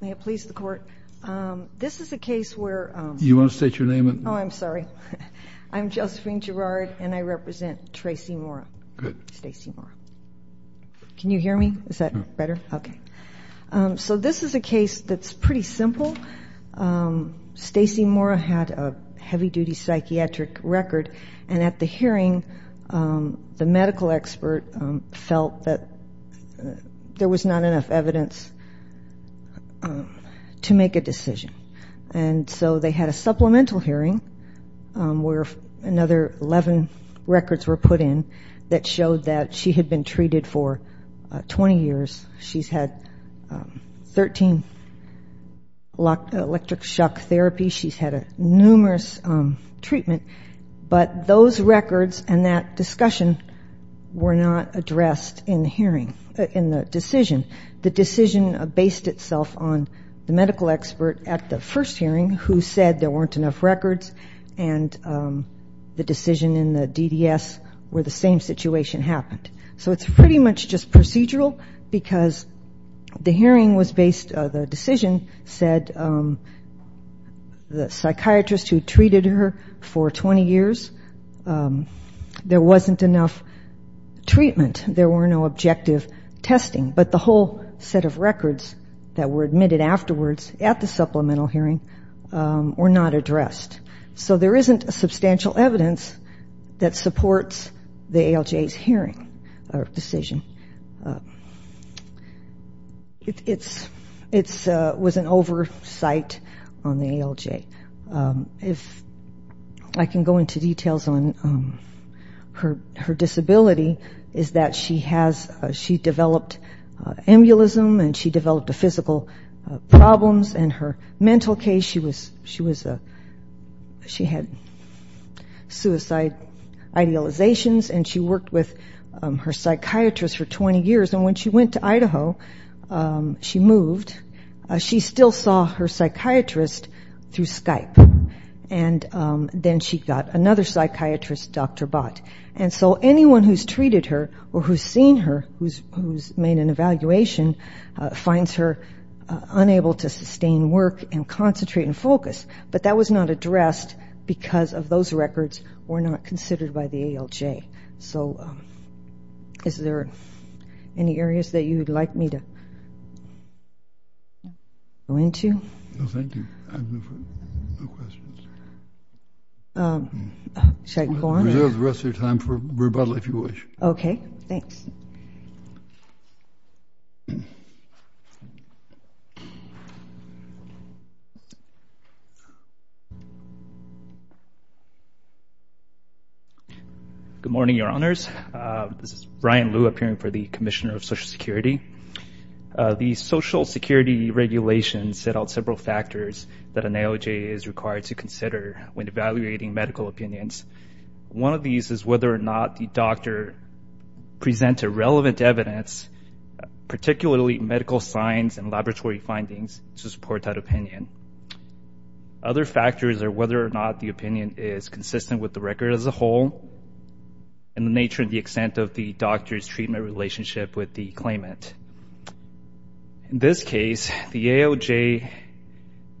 May it please the court. This is a case where... Do you want to state your name and... Oh, I'm sorry. I'm Josephine Gerard and I represent Tracy Mora. Good. Stacey Mora. Can you hear me? Is that better? Okay. So this is a case that's pretty simple. Stacey Mora had a heavy-duty psychiatric record, and at the hearing, the medical expert felt that there was not enough evidence to make a decision. And so they had a supplemental hearing where another 11 records were put in that showed that she had been treated for 20 years. She's had 13 electric shock therapies. She's had numerous treatment. But those records and that discussion were not addressed in the hearing, in the decision. The decision based itself on the medical expert at the first hearing who said there weren't enough records, and the decision in the DDS where the same situation happened. So it's pretty much just procedural because the hearing was based... The decision said the psychiatrist who treated her for 20 years, there wasn't enough treatment. There were no objective testing. But the whole set of records that were admitted afterwards at the supplemental hearing were not addressed. So there isn't substantial evidence that supports the ALJ's hearing or decision. It was an oversight on the ALJ. If I can go into details on her disability is that she developed embolism, and she developed physical problems, and her mental case, and she had suicide idealizations, and she worked with her psychiatrist for 20 years. And when she went to Idaho, she moved. She still saw her psychiatrist through Skype. And then she got another psychiatrist, Dr. Bott. And so anyone who's treated her or who's seen her, who's made an evaluation, finds her unable to sustain work and concentrate and focus. But that was not addressed because of those records were not considered by the ALJ. So is there any areas that you'd like me to go into? No, thank you. I have no questions. Should I go on? Reserve the rest of your time for rebuttal if you wish. Okay. Thanks. Thank you. Good morning, Your Honors. This is Brian Liu appearing for the Commissioner of Social Security. The Social Security regulations set out several factors that an ALJ is required to consider when evaluating medical opinions. One of these is whether or not the doctor presented relevant evidence, particularly medical signs and laboratory findings, to support that opinion. Other factors are whether or not the opinion is consistent with the record as a whole and the nature and the extent of the doctor's treatment relationship with the claimant. In this case, the ALJ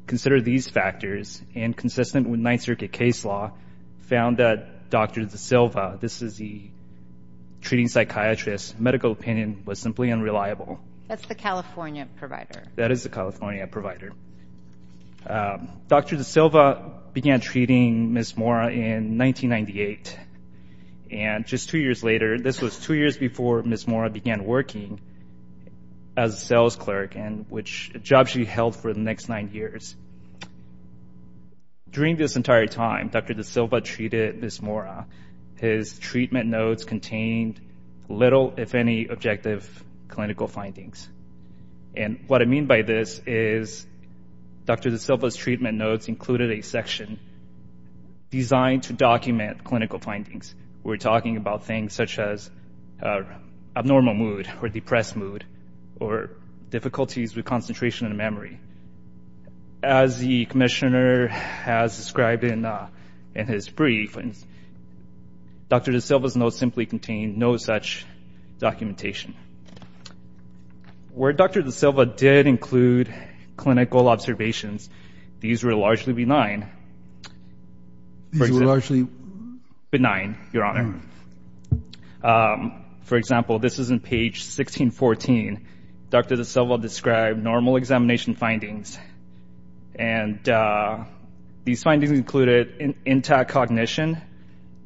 considered these factors, and consistent with Ninth Circuit case law, found that Dr. DeSilva, this is the treating psychiatrist, medical opinion, was simply unreliable. That's the California provider. That is the California provider. Dr. DeSilva began treating Ms. Mora in 1998, and just two years later, this was two years before Ms. Mora began working as a sales clerk, a job she held for the next nine years. During this entire time, Dr. DeSilva treated Ms. Mora. His treatment notes contained little, if any, objective clinical findings. And what I mean by this is Dr. DeSilva's treatment notes included a section designed to document clinical findings. We're talking about things such as abnormal mood or depressed mood or difficulties with concentration and memory. As the commissioner has described in his brief, Dr. DeSilva's notes simply contained no such documentation. Where Dr. DeSilva did include clinical observations, these were largely benign. These were largely? Benign, Your Honor. For example, this is on page 1614. Dr. DeSilva described normal examination findings, and these findings included intact cognition,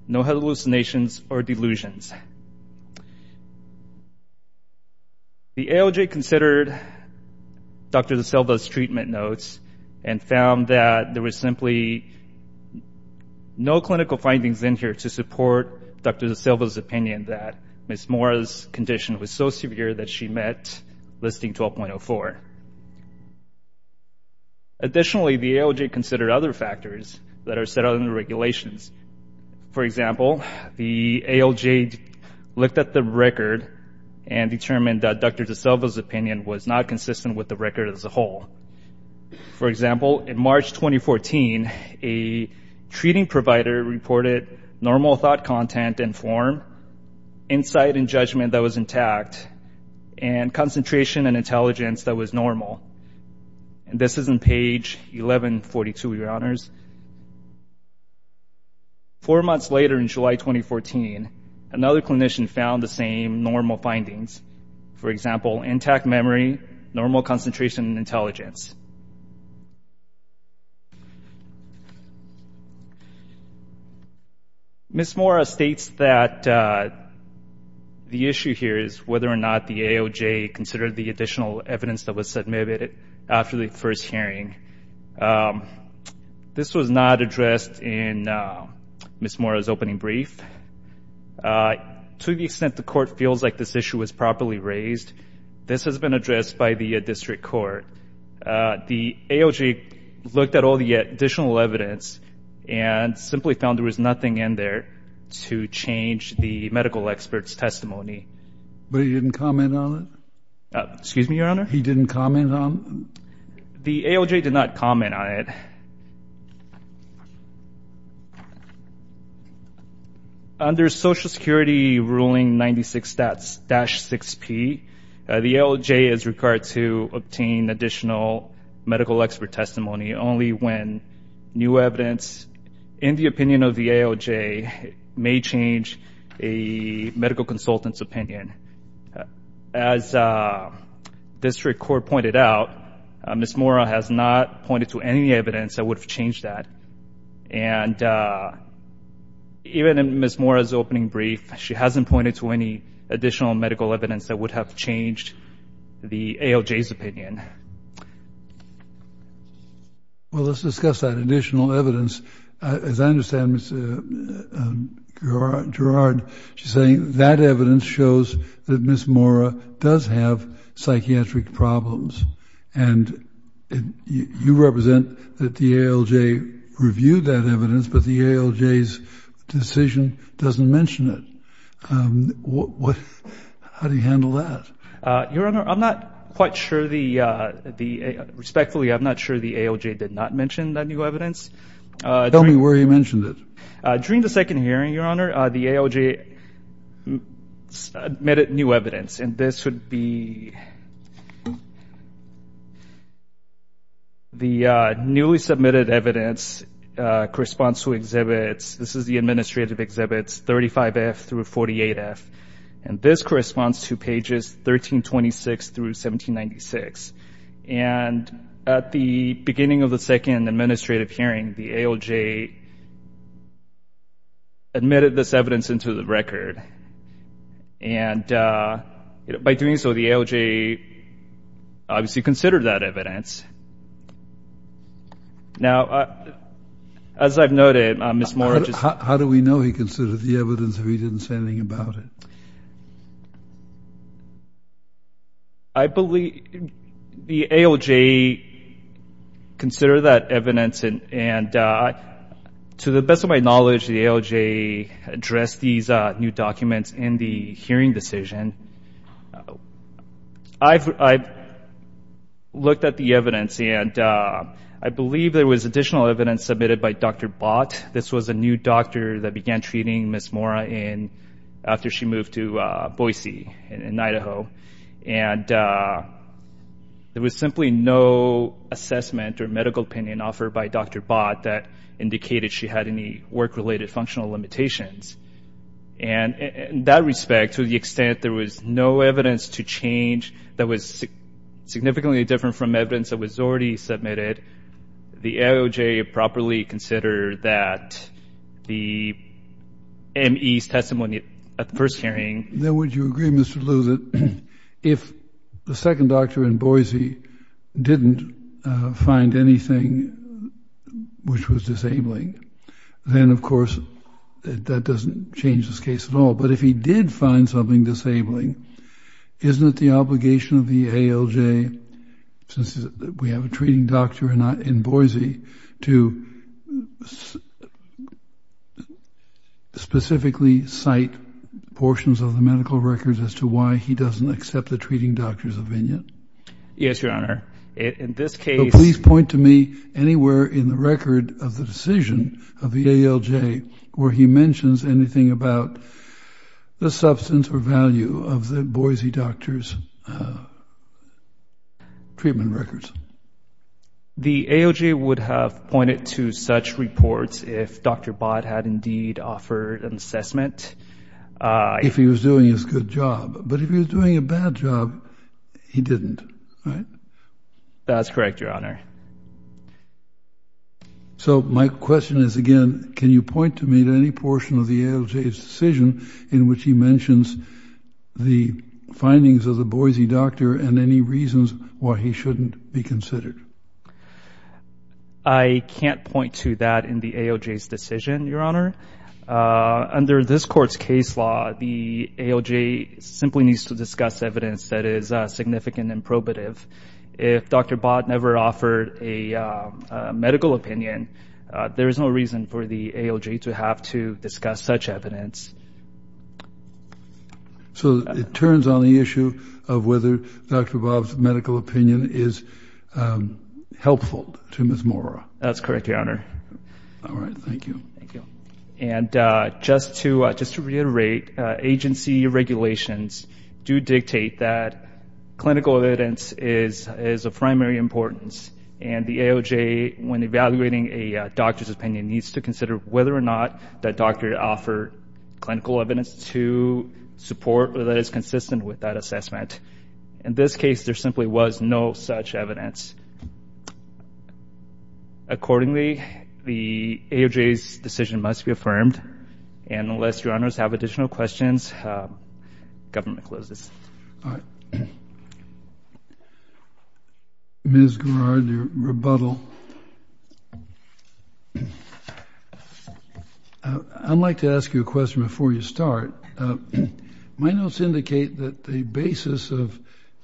no hallucinations or delusions. The ALJ considered Dr. DeSilva's treatment notes and found that there was simply no clinical findings in here to support Dr. DeSilva's opinion that Ms. Mora's condition was so severe that she met Listing 12.04. Additionally, the ALJ considered other factors that are set out in the regulations. For example, the ALJ looked at the record and determined that Dr. DeSilva's opinion was not consistent with the record as a whole. For example, in March 2014, a treating provider reported normal thought content and form, insight and judgment that was intact, and concentration and intelligence that was normal. This is on page 1142, Your Honors. Four months later, in July 2014, another clinician found the same normal findings. For example, intact memory, normal concentration and intelligence. Ms. Mora states that the issue here is whether or not the ALJ considered the additional evidence that was submitted after the first hearing. This was not addressed in Ms. Mora's opening brief. To the extent the Court feels like this issue was properly raised, this has been addressed by the district court. The ALJ looked at all the additional evidence and simply found there was nothing in there to change the medical expert's testimony. But he didn't comment on it? Excuse me, Your Honor? He didn't comment on it? The ALJ did not comment on it. Under Social Security Ruling 96-6P, the ALJ is required to obtain additional medical expert testimony only when new evidence in the opinion of the ALJ may change a medical consultant's opinion. As district court pointed out, Ms. Mora has not pointed to any evidence that would have changed that. And even in Ms. Mora's opening brief, she hasn't pointed to any additional medical evidence that would have changed the ALJ's opinion. Well, let's discuss that additional evidence. As I understand, Ms. Gerard, she's saying that evidence shows that Ms. Mora does have psychiatric problems. And you represent that the ALJ reviewed that evidence, but the ALJ's decision doesn't mention it. How do you handle that? Your Honor, I'm not quite sure. Respectfully, I'm not sure the ALJ did not mention that new evidence. Tell me where he mentioned it. During the second hearing, Your Honor, the ALJ submitted new evidence. And this would be the newly submitted evidence corresponds to exhibits. This is the administrative exhibits 35F through 48F. And this corresponds to pages 1326 through 1796. And at the beginning of the second administrative hearing, the ALJ admitted this evidence into the record. And by doing so, the ALJ obviously considered that evidence. Now, as I've noted, Ms. Mora just— How do we know he considered the evidence or he didn't say anything about it? I believe the ALJ considered that evidence. And to the best of my knowledge, the ALJ addressed these new documents in the hearing decision. I've looked at the evidence, and I believe there was additional evidence submitted by Dr. Bott. This was a new doctor that began treating Ms. Mora after she moved to Boise in Idaho. And there was simply no assessment or medical opinion offered by Dr. Bott that indicated she had any work-related functional limitations. And in that respect, to the extent there was no evidence to change that was significantly different from evidence that was already submitted, the ALJ properly considered that the M.E.'s testimony at the first hearing— Then would you agree, Mr. Liu, that if the second doctor in Boise didn't find anything which was disabling, then, of course, that doesn't change this case at all. But if he did find something disabling, isn't it the obligation of the ALJ, since we have a treating doctor in Boise, to specifically cite portions of the medical records as to why he doesn't accept the treating doctor's opinion? Yes, Your Honor. In this case— So please point to me anywhere in the record of the decision of the ALJ where he mentions anything about the substance or value of the Boise doctor's treatment records. The ALJ would have pointed to such reports if Dr. Bott had indeed offered an assessment. If he was doing his good job. But if he was doing a bad job, he didn't, right? That's correct, Your Honor. So my question is, again, can you point to me to any portion of the ALJ's decision in which he mentions the findings of the Boise doctor and any reasons why he shouldn't be considered? I can't point to that in the ALJ's decision, Your Honor. Under this Court's case law, the ALJ simply needs to discuss evidence that is significant and probative. If Dr. Bott never offered a medical opinion, there is no reason for the ALJ to have to discuss such evidence. So it turns on the issue of whether Dr. Bott's medical opinion is helpful to Ms. Mora. That's correct, Your Honor. All right. Thank you. And just to reiterate, agency regulations do dictate that clinical evidence is of primary importance. And the ALJ, when evaluating a doctor's opinion, needs to consider whether or not that doctor offered clinical evidence to support or that is consistent with that assessment. In this case, there simply was no such evidence. Accordingly, the ALJ's decision must be affirmed. And unless Your Honors have additional questions, government closes. All right. Ms. Garrard, your rebuttal. I'd like to ask you a question before you start. My notes indicate that the basis of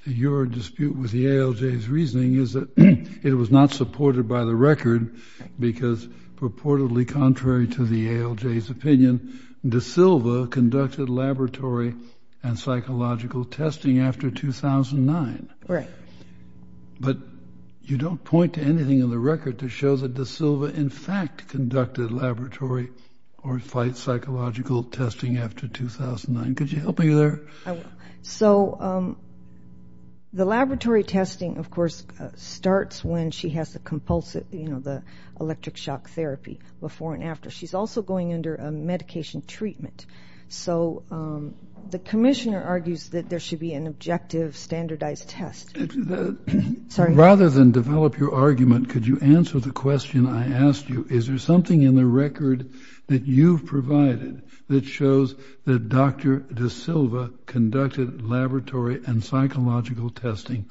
your dispute with the ALJ's reasoning is that it was not supported by the record because purportedly contrary to the ALJ's opinion, De Silva conducted laboratory and psychological testing after 2009. Right. But you don't point to anything in the record that shows that De Silva in fact conducted laboratory or psychological testing after 2009. Could you help me there? So the laboratory testing, of course, starts when she has the electric shock therapy before and after. She's also going under a medication treatment. So the commissioner argues that there should be an objective standardized test. Rather than develop your argument, could you answer the question I asked you? Is there something in the record that you've provided that shows that Dr. De Silva conducted laboratory and psychological testing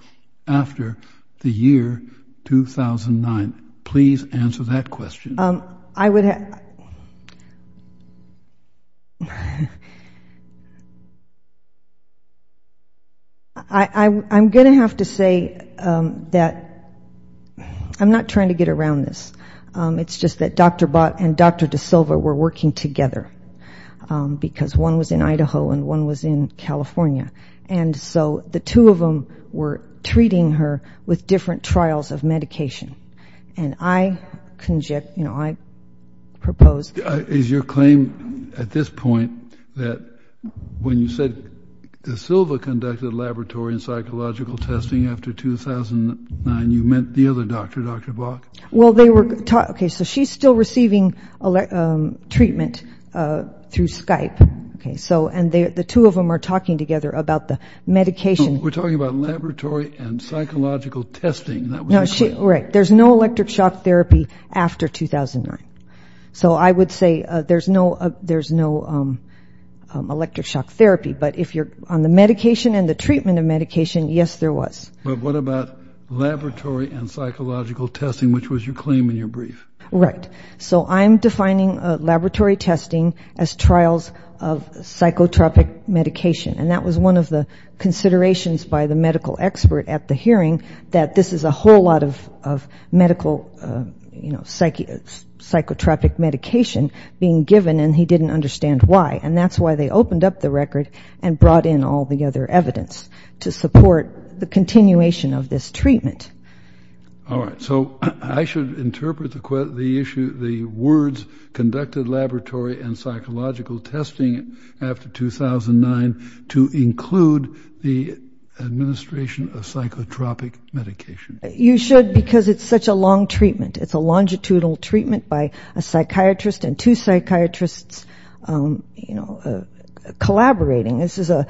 after the year 2009? Please answer that question. I would have to say that I'm not trying to get around this. It's just that Dr. Bott and Dr. De Silva were working together because one was in Idaho and one was in California. And so the two of them were treating her with different trials of medication. And I propose... Is your claim at this point that when you said De Silva conducted laboratory and psychological testing after 2009, you meant the other doctor, Dr. Bott? Well, they were talking. So she's still receiving treatment through Skype. And the two of them are talking together about the medication. We're talking about laboratory and psychological testing. Right. There's no electric shock therapy after 2009. So I would say there's no electric shock therapy. But if you're on the medication and the treatment of medication, yes, there was. But what about laboratory and psychological testing, which was your claim in your brief? Right. So I'm defining laboratory testing as trials of psychotropic medication. And that was one of the considerations by the medical expert at the hearing, that this is a whole lot of medical psychotropic medication being given, and he didn't understand why. And that's why they opened up the record and brought in all the other evidence to support the continuation of this treatment. All right. So I should interpret the issue, the words, conducted laboratory and psychological testing after 2009 to include the administration of psychotropic medication. You should because it's such a long treatment. It's a longitudinal treatment by a psychiatrist and two psychiatrists, you know, collaborating. This is a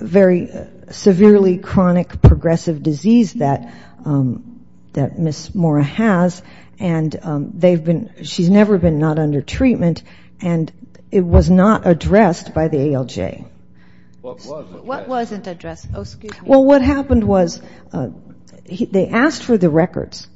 very severely chronic progressive disease that Ms. Mora has, and she's never been not under treatment, and it was not addressed by the ALJ. What wasn't addressed? Well, what happened was they asked for the records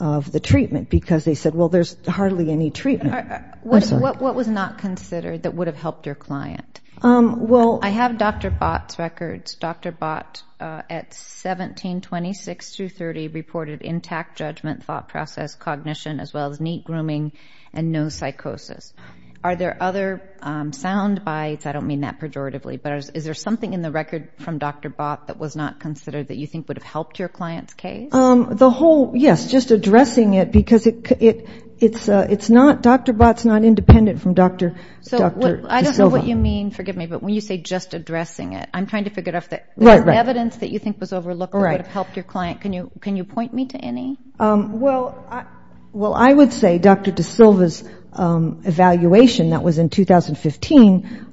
of the treatment because they said, well, there's hardly any treatment. What was not considered that would have helped your client? I have Dr. Bott's records. Dr. Bott, at 1726-30, reported intact judgment, thought process, cognition, as well as neat grooming and no psychosis. Are there other sound bites? I don't mean that pejoratively, but is there something in the record from Dr. Bott that was not considered that you think would have helped your client's case? The whole, yes, just addressing it because it's not, Dr. Bott's not independent from Dr. De Silva. I don't know what you mean, forgive me, but when you say just addressing it, I'm trying to figure out if there's evidence that you think was overlooked that would have helped your client. Can you point me to any? Well, I would say Dr. De Silva's evaluation that was in 2015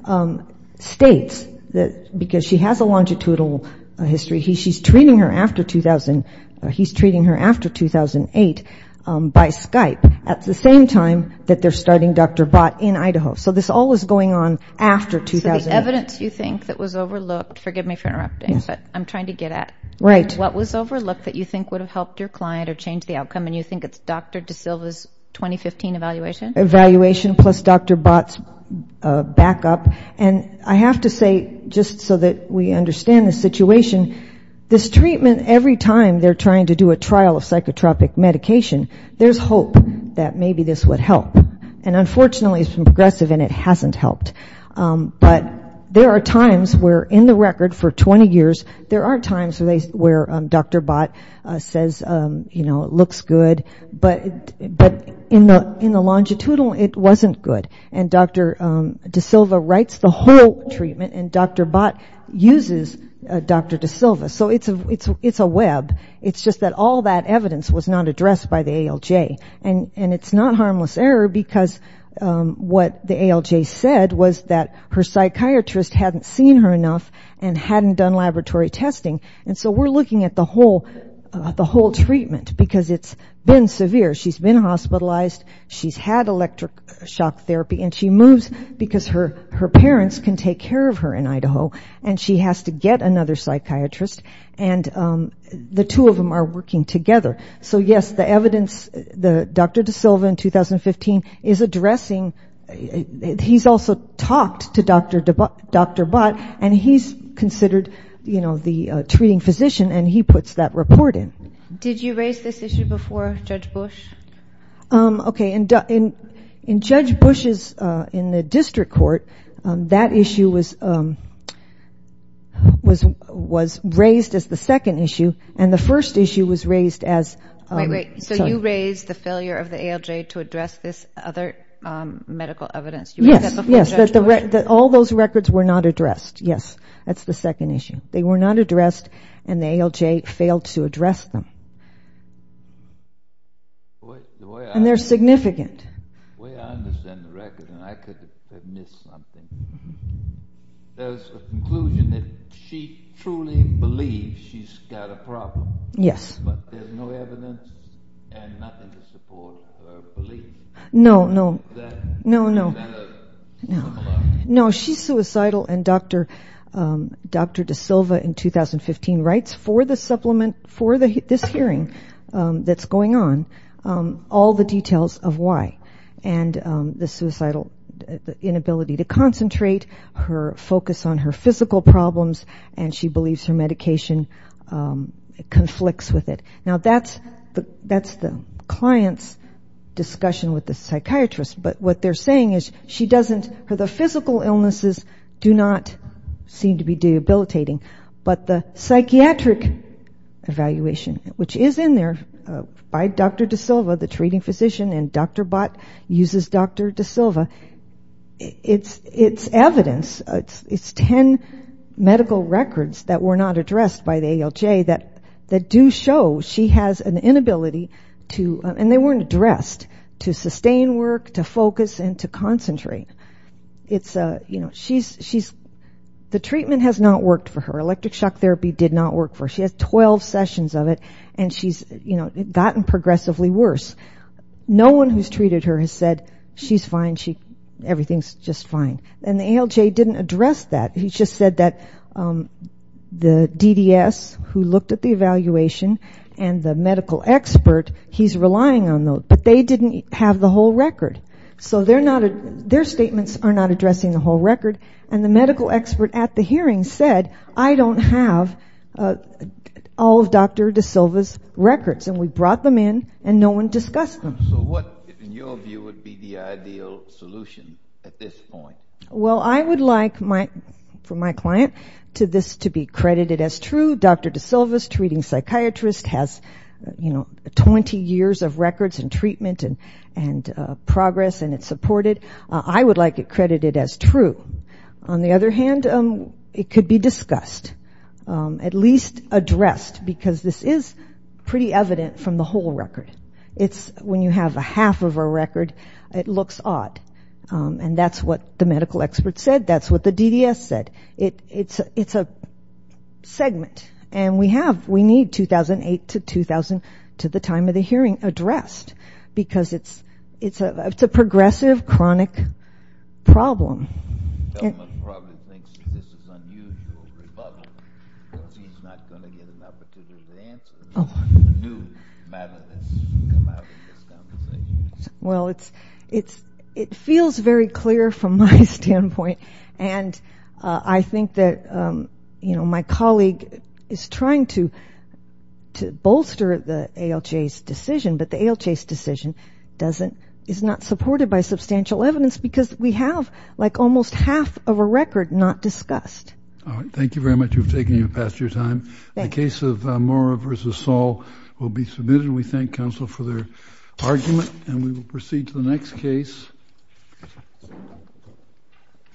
states that because she has a longitudinal history, she's treating her after 2008 by Skype at the same time that they're starting Dr. Bott in Idaho. So this all was going on after 2008. So the evidence you think that was overlooked, forgive me for interrupting, but I'm trying to get at. Right. What was overlooked that you think would have helped your client or changed the outcome, and you think it's Dr. De Silva's 2015 evaluation? Evaluation plus Dr. Bott's backup. And I have to say, just so that we understand the situation, this treatment, every time they're trying to do a trial of psychotropic medication, there's hope that maybe this would help. And unfortunately, it's been progressive and it hasn't helped. But there are times where in the record for 20 years, there are times where Dr. Bott says, you know, it looks good, but in the longitudinal, it wasn't good. And Dr. De Silva writes the whole treatment, and Dr. Bott uses Dr. De Silva. So it's a web. It's just that all that evidence was not addressed by the ALJ. And it's not harmless error because what the ALJ said was that her psychiatrist hadn't seen her enough and hadn't done laboratory testing. And so we're looking at the whole treatment because it's been severe. She's been hospitalized. She's had electric shock therapy. And she moves because her parents can take care of her in Idaho, and she has to get another psychiatrist. And the two of them are working together. So, yes, the evidence, Dr. De Silva in 2015 is addressing, he's also talked to Dr. Bott, and he's considered, you know, the treating physician, and he puts that report in. Did you raise this issue before Judge Bush? Okay. In Judge Bush's, in the district court, that issue was raised as the second issue, and the first issue was raised as... Wait, wait. So you raised the failure of the ALJ to address this other medical evidence. Yes, yes, that all those records were not addressed. Yes, that's the second issue. They were not addressed, and the ALJ failed to address them. And they're significant. The way I understand the record, and I could have missed something, there's a conclusion that she truly believes she's got a problem. Yes. But there's no evidence and nothing to support her belief. No, no, no, no. No, she's suicidal, and Dr. De Silva in 2015 writes for the supplement, for this hearing that's going on, all the details of why, and the suicidal inability to concentrate, her focus on her physical problems, and she believes her medication conflicts with it. Now, that's the client's discussion with the psychiatrist, but what they're saying is she doesn't, her physical illnesses do not seem to be debilitating, but the psychiatric evaluation, which is in there by Dr. De Silva, the treating physician, and Dr. Bott uses Dr. De Silva, it's evidence, it's ten medical records that were not addressed by the ALJ that do show she has an inability to, and they weren't addressed, to sustain work, to focus, and to concentrate. The treatment has not worked for her. Electric shock therapy did not work for her. She has 12 sessions of it, and she's gotten progressively worse. No one who's treated her has said, she's fine, everything's just fine, and the ALJ didn't address that. He just said that the DDS, who looked at the evaluation, and the medical expert, he's relying on those, but they didn't have the whole record. So their statements are not addressing the whole record, and the medical expert at the hearing said, I don't have all of Dr. De Silva's records, and we brought them in, and no one discussed them. So what, in your view, would be the ideal solution at this point? Well, I would like, for my client, for this to be credited as true. Dr. De Silva's treating psychiatrist has, you know, 20 years of records and treatment and progress, and it's supported. I would like it credited as true. On the other hand, it could be discussed, at least addressed, because this is pretty evident from the whole record. It's when you have a half of a record, it looks odd, and that's what the medical expert said, that's what the DDS said. It's a segment, and we have, we need 2008 to 2000 to the time of the hearing addressed, because it's a progressive, chronic problem. The government probably thinks this is unusual rebuttal, because he's not going to get an opportunity to answer. A new matter has come out in this conversation. Well, it feels very clear from my standpoint, and I think that, you know, my colleague is trying to bolster the ALJ's decision, but the ALJ's decision doesn't, is not supported by substantial evidence, because we have, like, almost half of a record not discussed. All right, thank you very much. We've taken you past your time. The case of Mora versus Saul will be submitted, and we thank counsel for their argument, and we will proceed to the next case.